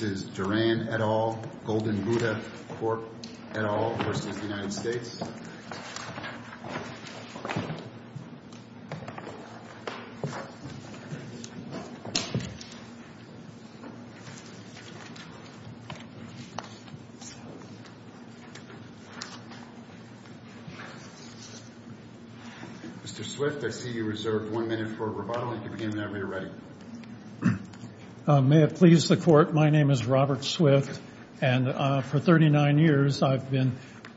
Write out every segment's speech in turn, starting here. This Is Duran et al., Golden Buddha Corp. et al. v. United States. Mr. Swift, I see you reserved one minute for rebuttal. You can begin whenever you're ready. May it please the Court, my name is Robert Swift, and for 39 years I've been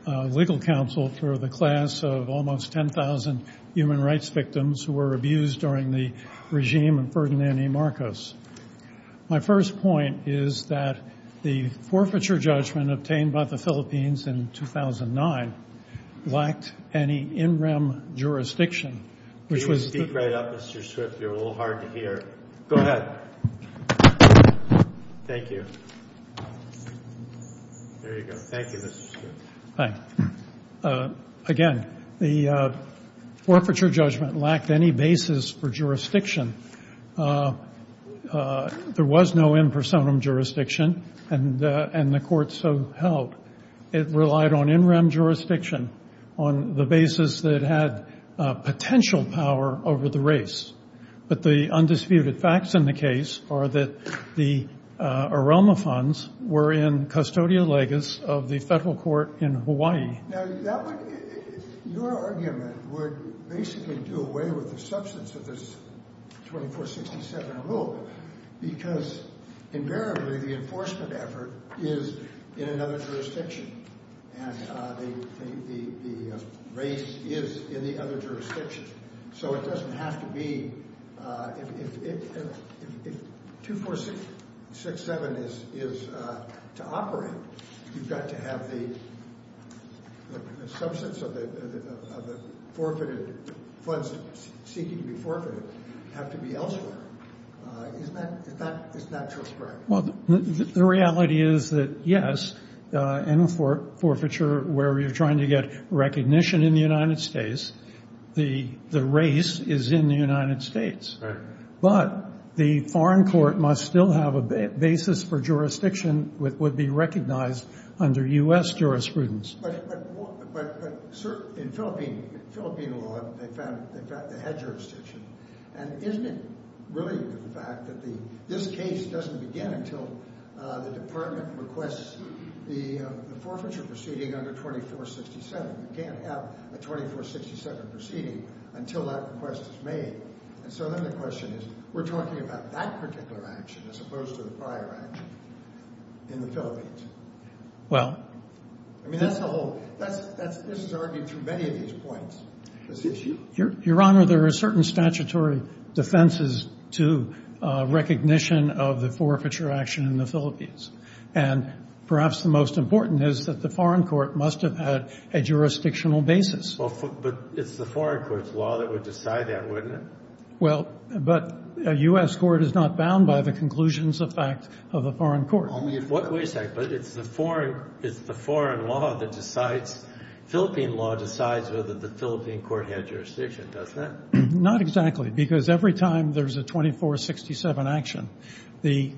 legal counsel for the class of almost 10,000 human rights victims who were abused during the regime of Ferdinand Marcos. My first point is that the forfeiture judgment obtained by the Philippines in 2009 lacked any in rem jurisdiction, which was If you speak right up, Mr. Swift, you're a little hard to hear. Go ahead. Thank you. There you go. Thank you, Mr. Swift. Again, the forfeiture judgment lacked any basis for jurisdiction. There was no in personam jurisdiction, and the Court so held. It relied on in rem jurisdiction on the basis that it had potential power over the race. But the undisputed facts in the case are that the AROMA funds were in custodia legis of the federal court in Hawaii. Now, your argument would basically do away with the substance of this 2467 rule because invariably the enforcement effort is in another jurisdiction, and the race is in the other jurisdiction. So it doesn't have to be. If 2467 is to operate, you've got to have the substance of the forfeited funds seeking to be forfeited have to be elsewhere. The reality is that, yes, in a forfeiture where you're trying to get recognition in the United States, the race is in the United States. But the foreign court must still have a basis for jurisdiction which would be recognized under U.S. jurisprudence. But in Philippine law, they found the head jurisdiction. And isn't it really the fact that this case doesn't begin until the department requests the forfeiture proceeding under 2467? You can't have a 2467 proceeding until that request is made. And so then the question is, we're talking about that particular action as opposed to the prior action in the Philippines. Well. I mean, that's the whole – this has already been through many of these points, this issue. Your Honor, there are certain statutory defenses to recognition of the forfeiture action in the Philippines. And perhaps the most important is that the foreign court must have had a jurisdictional basis. But it's the foreign court's law that would decide that, wouldn't it? Well, but a U.S. court is not bound by the conclusions of fact of a foreign court. Wait a second. But it's the foreign – it's the foreign law that decides – Philippine law decides whether the Philippine court had jurisdiction, doesn't it? Not exactly. Because every time there's a 2467 action, the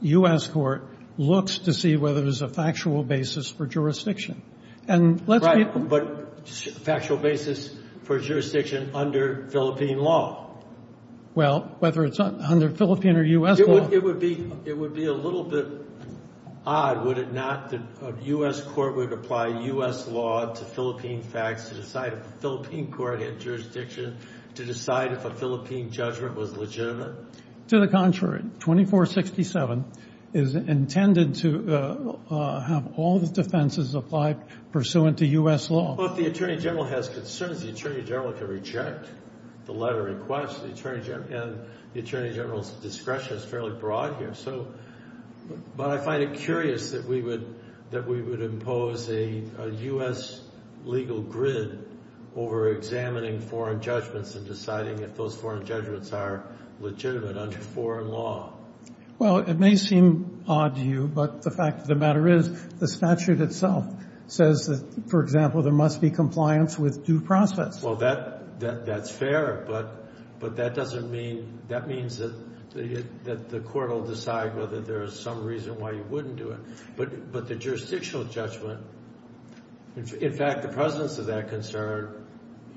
U.S. court looks to see whether there's a factual basis for jurisdiction. And let's be – But factual basis for jurisdiction under Philippine law. Well, whether it's under Philippine or U.S. law – It would be – it would be a little bit odd, would it not, that a U.S. court would apply U.S. law to Philippine facts to decide if a Philippine court had jurisdiction to decide if a Philippine judgment was legitimate? To the contrary. 2467 is intended to have all the defenses applied pursuant to U.S. law. Well, if the attorney general has concerns, the attorney general can reject the letter in question. And the attorney general's discretion is fairly broad here. So – but I find it curious that we would impose a U.S. legal grid over examining foreign judgments and deciding if those foreign judgments are legitimate under foreign law. Well, it may seem odd to you, but the fact of the matter is the statute itself says that, for example, there must be compliance with due process. Well, that's fair, but that doesn't mean – that means that the court will decide whether there is some reason why you wouldn't do it. But the jurisdictional judgment – in fact, the presence of that concern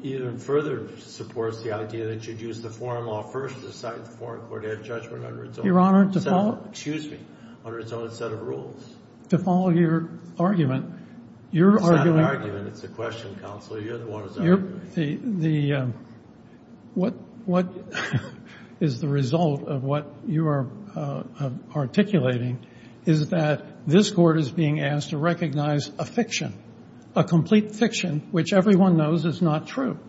even further supports the idea that you'd use the foreign law first to decide if the foreign court had judgment under its own – Your Honor, to follow – Excuse me. Under its own set of rules. To follow your argument, you're arguing – The – what is the result of what you are articulating is that this court is being asked to recognize a fiction, a complete fiction which everyone knows is not true.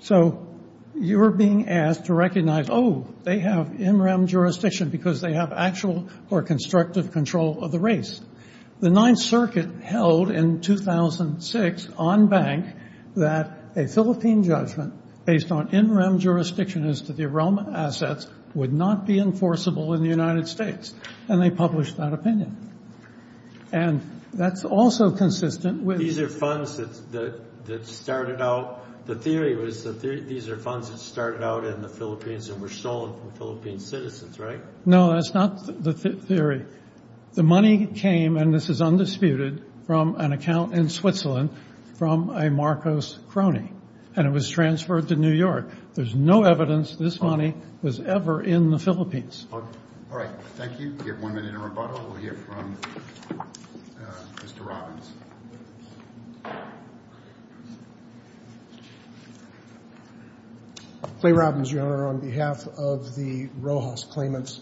So you're being asked to recognize, oh, they have in-rem jurisdiction because they have actual or constructive control of the race. The Ninth Circuit held in 2006 on bank that a Philippine judgment based on in-rem jurisdiction as to the realm of assets would not be enforceable in the United States, and they published that opinion. And that's also consistent with – These are funds that started out – the theory was that these are funds that started out in the Philippines and were stolen from Philippine citizens, right? No, that's not the theory. The money came, and this is undisputed, from an account in Switzerland from a Marcos crony, and it was transferred to New York. There's no evidence this money was ever in the Philippines. All right. Thank you. We have one minute of rebuttal. We'll hear from Mr. Robbins. Clay Robbins, Your Honor, on behalf of the Rojas Claimants.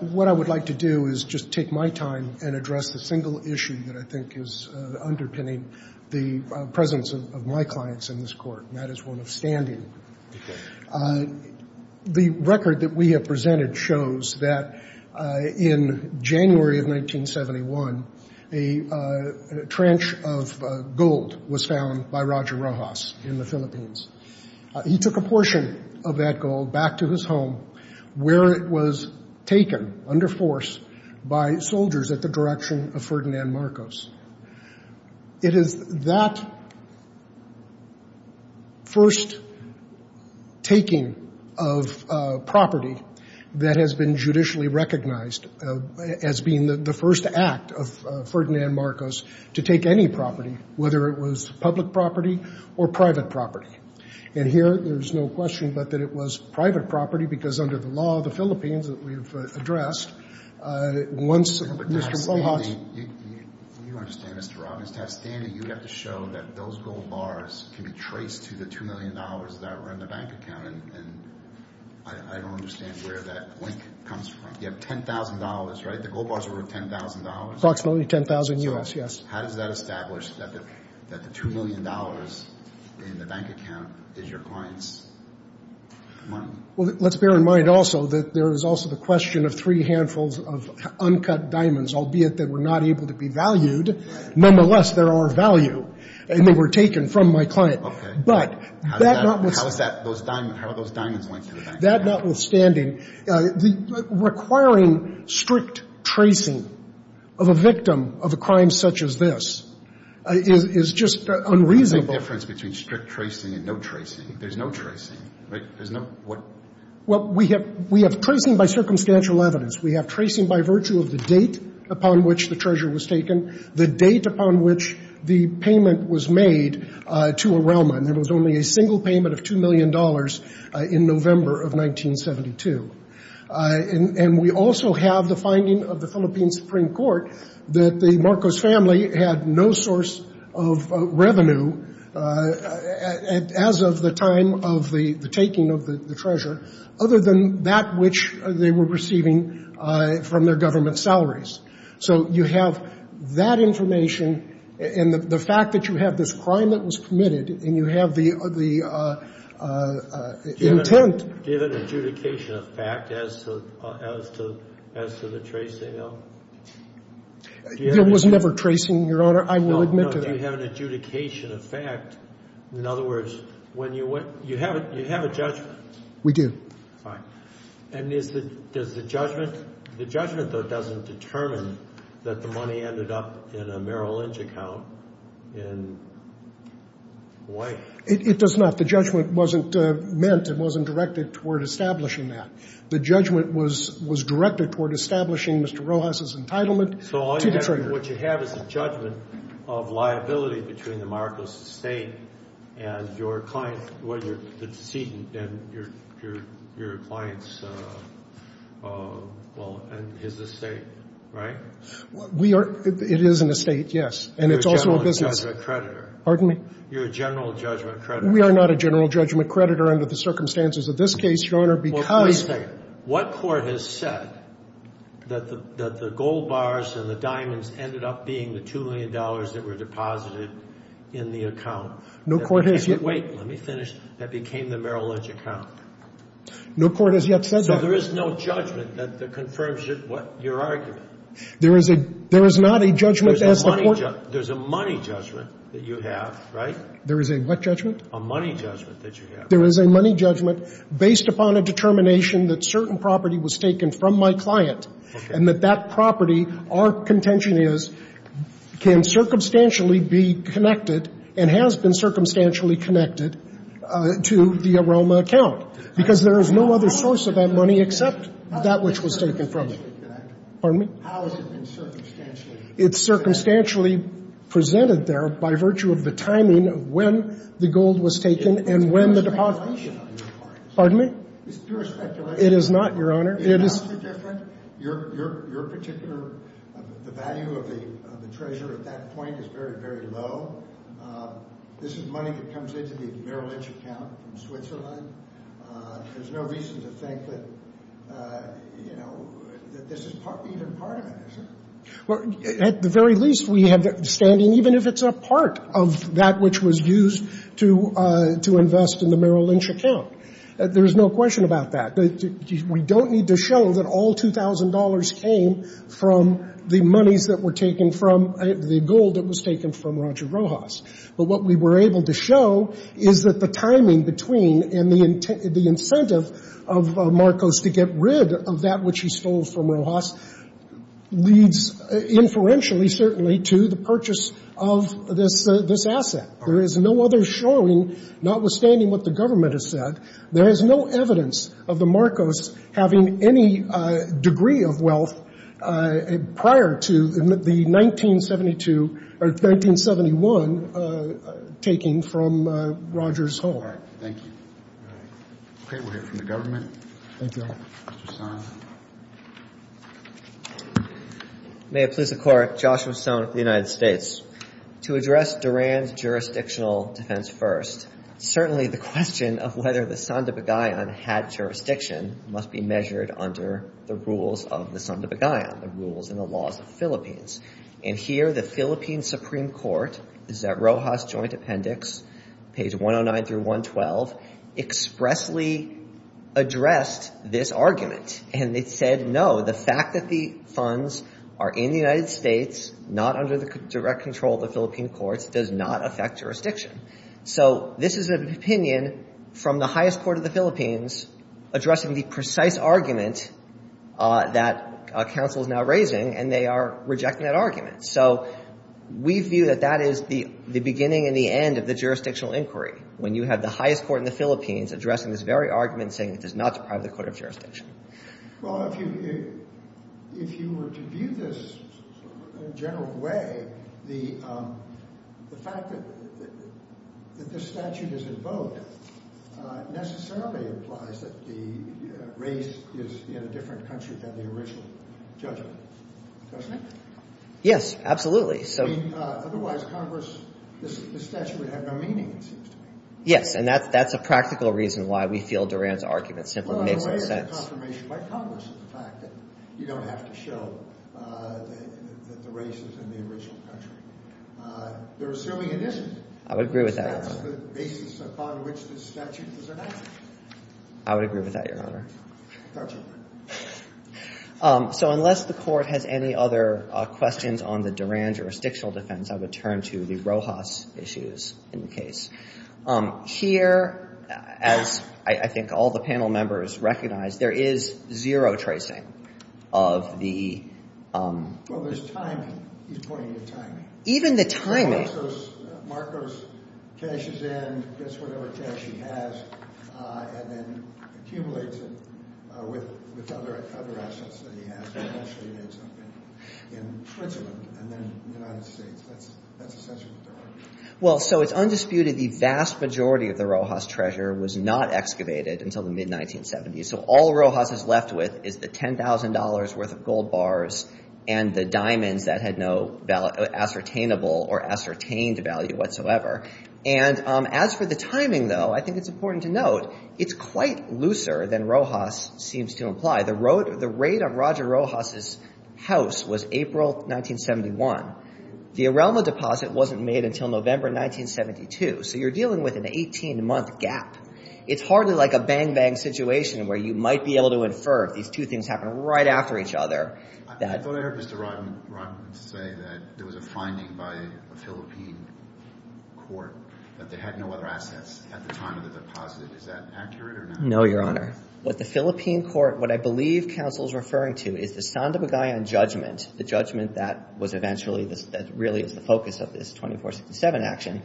What I would like to do is just take my time and address the single issue that I think is underpinning the presence of my clients in this court, and that is one of standing. The record that we have presented shows that in January of 1971, a trench of gold was found by Roger Rojas in the Philippines. He took a portion of that gold back to his home where it was taken under force by soldiers at the direction of Ferdinand Marcos. It is that first taking of property that has been judicially recognized as being the first act of Ferdinand Marcos to take any property, whether it was public property or private property. And here, there's no question but that it was private property because under the law of the Philippines that we've addressed, once Mr. Rojas— But to have standing, you understand, Mr. Robbins, to have standing, you have to show that those gold bars can be traced to the $2 million that were in the bank account. And I don't understand where that link comes from. You have $10,000, right? The gold bars were worth $10,000? Approximately $10,000, yes, yes. How does that establish that the $2 million in the bank account is your clients' money? Well, let's bear in mind also that there is also the question of three handfuls of uncut diamonds, albeit that were not able to be valued. Nonetheless, there are of value, and they were taken from my client. Okay. But that notwithstanding— How is that, how are those diamonds linked to the bank account? That notwithstanding, requiring strict tracing of a victim of a crime such as this is just unreasonable. What is the difference between strict tracing and no tracing? There's no tracing, right? There's no—what? Well, we have tracing by circumstantial evidence. We have tracing by virtue of the date upon which the treasure was taken, the date upon which the payment was made to Orelma, and there was only a single payment of $2 million in November of 1972. And we also have the finding of the Philippine Supreme Court that the Marcos family had no source of revenue as of the time of the taking of the treasure, other than that which they were receiving from their government salaries. So you have that information and the fact that you have this crime that was committed and you have the intent— Do you have an adjudication of fact as to the tracing, though? There was never tracing, Your Honor. I will admit to that. No, no. Do you have an adjudication of fact? In other words, when you went—you have a judgment. We do. Fine. And is the judgment—the judgment, though, doesn't determine that the money ended up in a Merrill Lynch account in Hawaii. It does not. But the judgment wasn't meant and wasn't directed toward establishing that. The judgment was directed toward establishing Mr. Rojas's entitlement to the treasure. So all you have—what you have is a judgment of liability between the Marcos estate and your client—well, your—the decedent and your client's, well, and his estate, right? We are—it is an estate, yes. And it's also a business— You're a general judgment creditor. Pardon me? You're a general judgment creditor. We are not a general judgment creditor under the circumstances of this case, Your Honor, because— Well, wait a second. What court has said that the gold bars and the diamonds ended up being the $2 million that were deposited in the account? No court has yet— Wait. Let me finish. That became the Merrill Lynch account. No court has yet said that. So there is no judgment that confirms your argument. There is a—there is not a judgment as the court— There's a money judgment that you have, right? There is a what judgment? A money judgment that you have. There is a money judgment based upon a determination that certain property was taken from my client— Okay. —and that that property, our contention is, can circumstantially be connected and has been circumstantially connected to the Aroma account, because there is no other source of that money except that which was taken from it. Pardon me? How has it been circumstantially— It's circumstantially presented there by virtue of the timing of when the gold was taken and when the deposit— It's pure speculation on your part. Pardon me? It's pure speculation. It is not, Your Honor. It has to be different. Your particular—the value of the treasure at that point is very, very low. This is money that comes into the Merrill Lynch account from Switzerland. There's no reason to think that, you know, that this is even part of it, is there? At the very least, we have the understanding even if it's a part of that which was used to invest in the Merrill Lynch account. There's no question about that. We don't need to show that all $2,000 came from the monies that were taken from the gold that was taken from Roger Rojas. But what we were able to show is that the timing between and the incentive of Marcos to get rid of that which he stole from Rojas leads inferentially, certainly, to the purchase of this asset. There is no other showing, notwithstanding what the government has said, there is no evidence of the Marcos having any degree of wealth prior to the 1972 or 1971 taking from Rogers' home. All right. Thank you. All right. Mr. Son. May it please the Court. Joshua Son of the United States. To address Duran's jurisdictional defense first, certainly the question of whether the Santa Pagayan had jurisdiction must be measured under the rules of the Santa Pagayan, the rules and the laws of the Philippines. And here the Philippine Supreme Court, this is at Rojas Joint Appendix, page 109 through 112, expressly addressed this argument. And it said, no, the fact that the funds are in the United States, not under the direct control of the Philippine courts, does not affect jurisdiction. So this is an opinion from the highest court of the Philippines addressing the precise argument that counsel is now raising, and they are rejecting that argument. So we view that that is the beginning and the end of the jurisdictional inquiry. When you have the highest court in the Philippines addressing this very argument, saying it does not deprive the court of jurisdiction. Well, if you were to view this in a general way, the fact that this statute is in both necessarily implies that the race is in a different country than the original judgment, doesn't it? Yes, absolutely. Otherwise, Congress, this statute would have no meaning, it seems to me. Yes, and that's a practical reason why we feel Durand's argument simply makes no sense. Well, it is a confirmation by Congress of the fact that you don't have to show that the race is in the original country. They're assuming it isn't. I would agree with that, Your Honor. Because that's the basis upon which this statute is enacted. I would agree with that, Your Honor. That's all right. So unless the Court has any other questions on the Durand jurisdictional defense, I would turn to the Rojas issues in the case. Here, as I think all the panel members recognize, there is zero tracing of the — Well, there's timing. He's pointing to timing. Even the timing. Marcos cashes in, gets whatever cash he has, and then accumulates it with other assets that he has. He actually did something in Switzerland and then the United States. That's essentially what Durand did. Well, so it's undisputed the vast majority of the Rojas treasure was not excavated until the mid-1970s. So all Rojas is left with is the $10,000 worth of gold bars and the diamonds that had no ascertainable or ascertained value whatsoever. And as for the timing, though, I think it's important to note it's quite looser than Rojas seems to imply. The rate of Roger Rojas' house was April 1971. The Arelma deposit wasn't made until November 1972. So you're dealing with an 18-month gap. It's hardly like a bang-bang situation where you might be able to infer if these two things happen right after each other. I thought I heard Mr. Rotten say that there was a finding by a Philippine court that they had no other assets at the time of the deposit. Is that accurate or not? No, Your Honor. What the Philippine court — what I believe counsel is referring to is the Sandovigayan judgment, the judgment that was eventually — that really is the focus of this 2467 action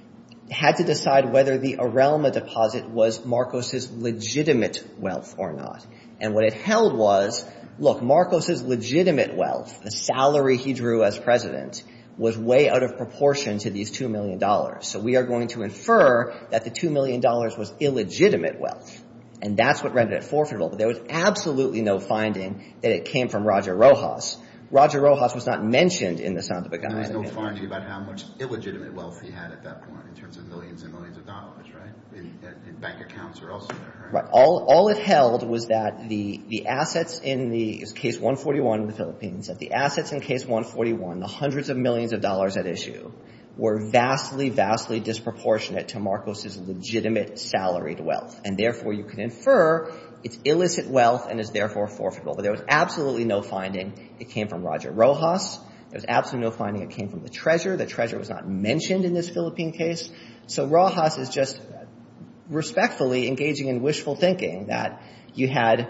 — had to decide whether the Arelma deposit was Marcos' legitimate wealth or not. And what it held was, look, Marcos' legitimate wealth, the salary he drew as president, was way out of proportion to these $2 million. So we are going to infer that the $2 million was illegitimate wealth. And that's what rendered it forfeitable. There was absolutely no finding that it came from Roger Rojas. Roger Rojas was not mentioned in the Sandovigayan. There was no finding about how much illegitimate wealth he had at that point in terms of millions and millions of dollars, right? In bank accounts or elsewhere, right? Right. All it held was that the assets in the — it was Case 141 in the Philippines — that the assets in Case 141, the hundreds of millions of dollars at issue, were vastly, vastly disproportionate to Marcos' legitimate salaried wealth. And therefore, you can infer it's illicit wealth and is therefore forfeitable. But there was absolutely no finding it came from Roger Rojas. There was absolutely no finding it came from the treasurer. The treasurer was not mentioned in this Philippine case. So Rojas is just respectfully engaging in wishful thinking that you had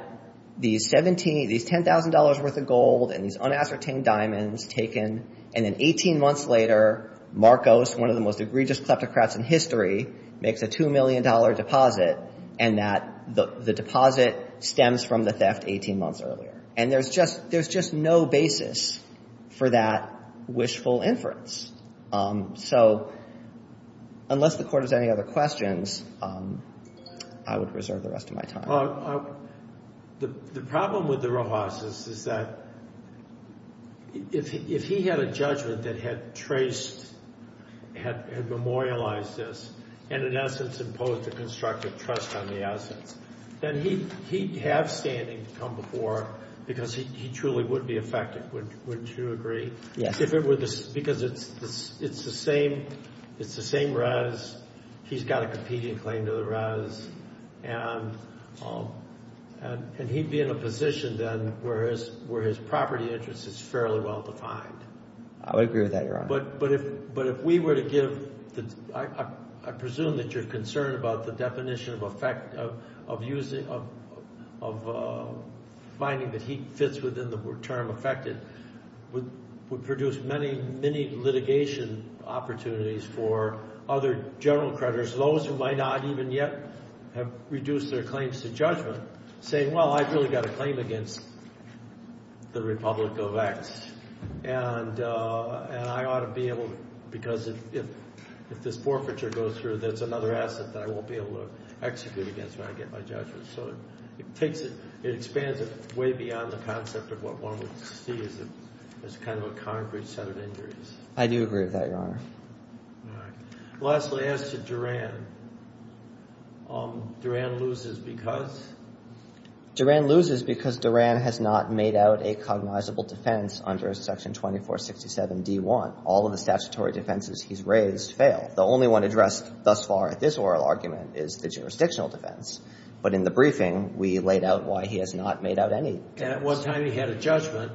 these $10,000 worth of gold and these unascertained diamonds taken. And then 18 months later, Marcos, one of the most egregious kleptocrats in history, makes a $2 million deposit, and that the deposit stems from the theft 18 months earlier. And there's just — there's just no basis for that wishful inference. So unless the Court has any other questions, I would reserve the rest of my time. The problem with Rojas is that if he had a judgment that had traced — had memorialized this, and in essence imposed a constructive trust on the assets, then he'd have standing to come before because he truly would be affected. Wouldn't you agree? Yes. Because it's the same — it's the same res. He's got a competing claim to the res. And he'd be in a position then where his property interest is fairly well defined. I would agree with that, Your Honor. But if we were to give the — I presume that you're concerned about the definition of effect of using — of finding that he fits within the term affected, would produce many, many litigation opportunities for other general creditors, those who might not even yet have reduced their claims to judgment, saying, well, I've really got a claim against the Republic of X, and I ought to be able to — because if this forfeiture goes through, that's another asset that I won't be able to execute against when I get my judgment. So it takes it — it expands it way beyond the concept of what one would see as kind of a concrete set of injuries. I do agree with that, Your Honor. All right. Lastly, as to Duran, Duran loses because? Duran loses because Duran has not made out a cognizable defense under Section 2467D1. All of the statutory defenses he's raised fail. The only one addressed thus far at this oral argument is the jurisdictional defense. But in the briefing, we laid out why he has not made out any defense. And at one time he had a judgment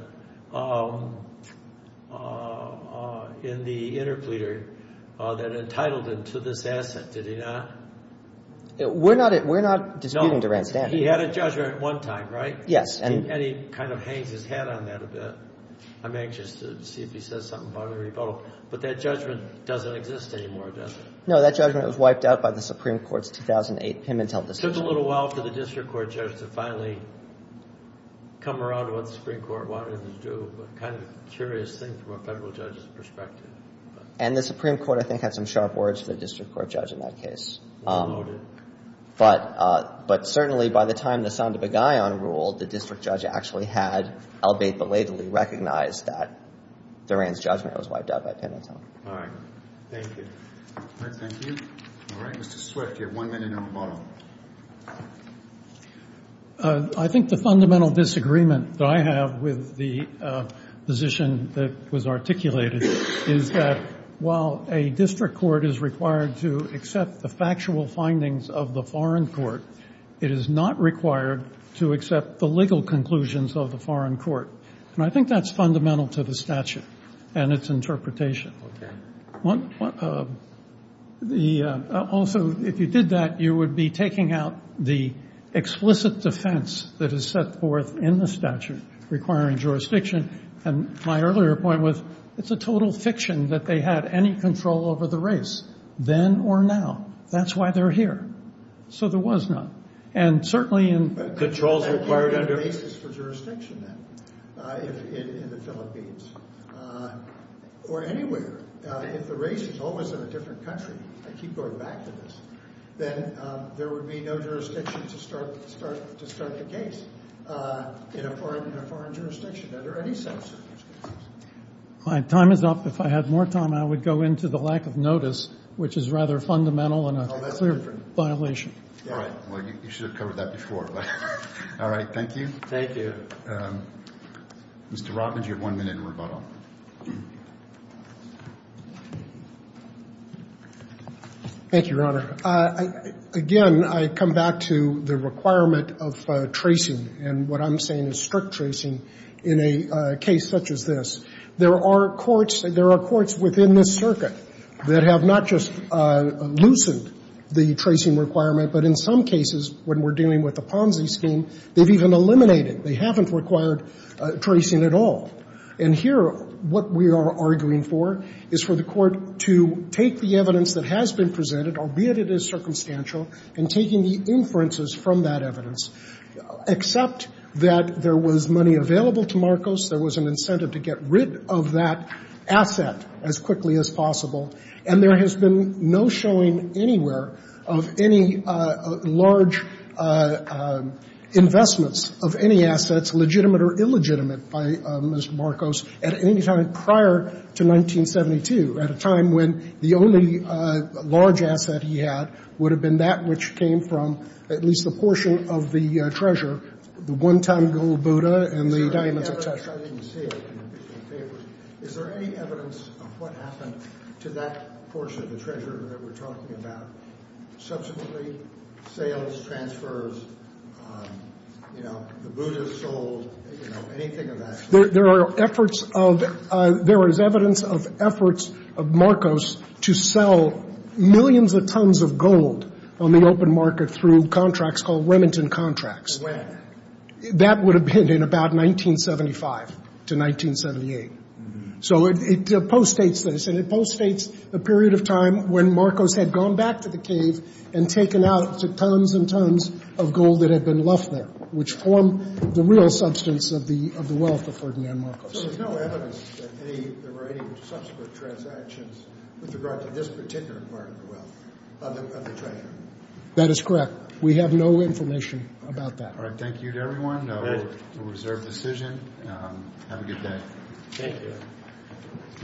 in the interpleader that entitled him to this asset. Did he not? We're not disputing Duran's standing. He had a judgment at one time, right? Yes. And he kind of hangs his head on that a bit. I'm anxious to see if he says something about a rebuttal. But that judgment doesn't exist anymore, does it? No, that judgment was wiped out by the Supreme Court's 2008 Pimentel decision. It took a little while for the district court judge to finally come around to what the Supreme Court wanted him to do, but kind of a curious thing from a federal judge's perspective. And the Supreme Court, I think, had some sharp words for the district court judge in that case. Noted. But certainly by the time the sound of a guy unruled, the district judge actually had, albeit belatedly, recognized that Duran's judgment was wiped out by Pimentel. All right. Thank you. Thank you. All right. Mr. Swift, you have one minute on the bottom. I think the fundamental disagreement that I have with the position that was articulated is that while a district court is required to accept the factual findings of the foreign court, it is not required to accept the legal conclusions of the foreign court. And I think that's fundamental to the statute and its interpretation. Okay. Also, if you did that, you would be taking out the explicit defense that is set forth in the statute requiring jurisdiction. And my earlier point was it's a total fiction that they had any control over the race, then or now. That's why they're here. So there was none. And certainly in the- If the race is always in a different country, I keep going back to this, then there would be no jurisdiction to start the case in a foreign jurisdiction under any circumstances. My time is up. If I had more time, I would go into the lack of notice, which is rather fundamental and a clear violation. All right. Well, you should have covered that before. All right. Thank you. Thank you. Mr. Rothman, you have one minute in rebuttal. Thank you, Your Honor. Again, I come back to the requirement of tracing and what I'm saying is strict tracing in a case such as this. There are courts within this circuit that have not just loosened the tracing requirement, but in some cases when we're dealing with the Ponzi scheme, they've even eliminated They haven't required tracing at all. And here what we are arguing for is for the court to take the evidence that has been presented, albeit it is circumstantial, and taking the inferences from that evidence, except that there was money available to Marcos, there was an incentive to get rid of that asset as quickly as possible, and there has been no showing anywhere of any large investments of any assets legitimate or illegitimate by Mr. Marcos at any time prior to 1972, at a time when the only large asset he had would have been that which came from at least a portion of the treasure, the one-time gold Buddha and the diamonds of treasure. I didn't see it in the papers. Is there any evidence of what happened to that portion of the treasure that we're talking about? Subsequently, sales, transfers, you know, the Buddha sold, you know, anything of that sort. There are efforts of – there is evidence of efforts of Marcos to sell millions of tons of gold on the open market through contracts called Remington contracts. When? That would have been in about 1975 to 1978. So it post-states this, and it post-states the period of time when Marcos had gone back to the cave and taken out tons and tons of gold that had been left there, which formed the real substance of the wealth of Ferdinand Marcos. So there's no evidence that there were any subsequent transactions with regard to this particular part of the wealth, of the treasure? That is correct. We have no information about that. All right. Thank you to everyone. A reserved decision. Have a good day. Thank you.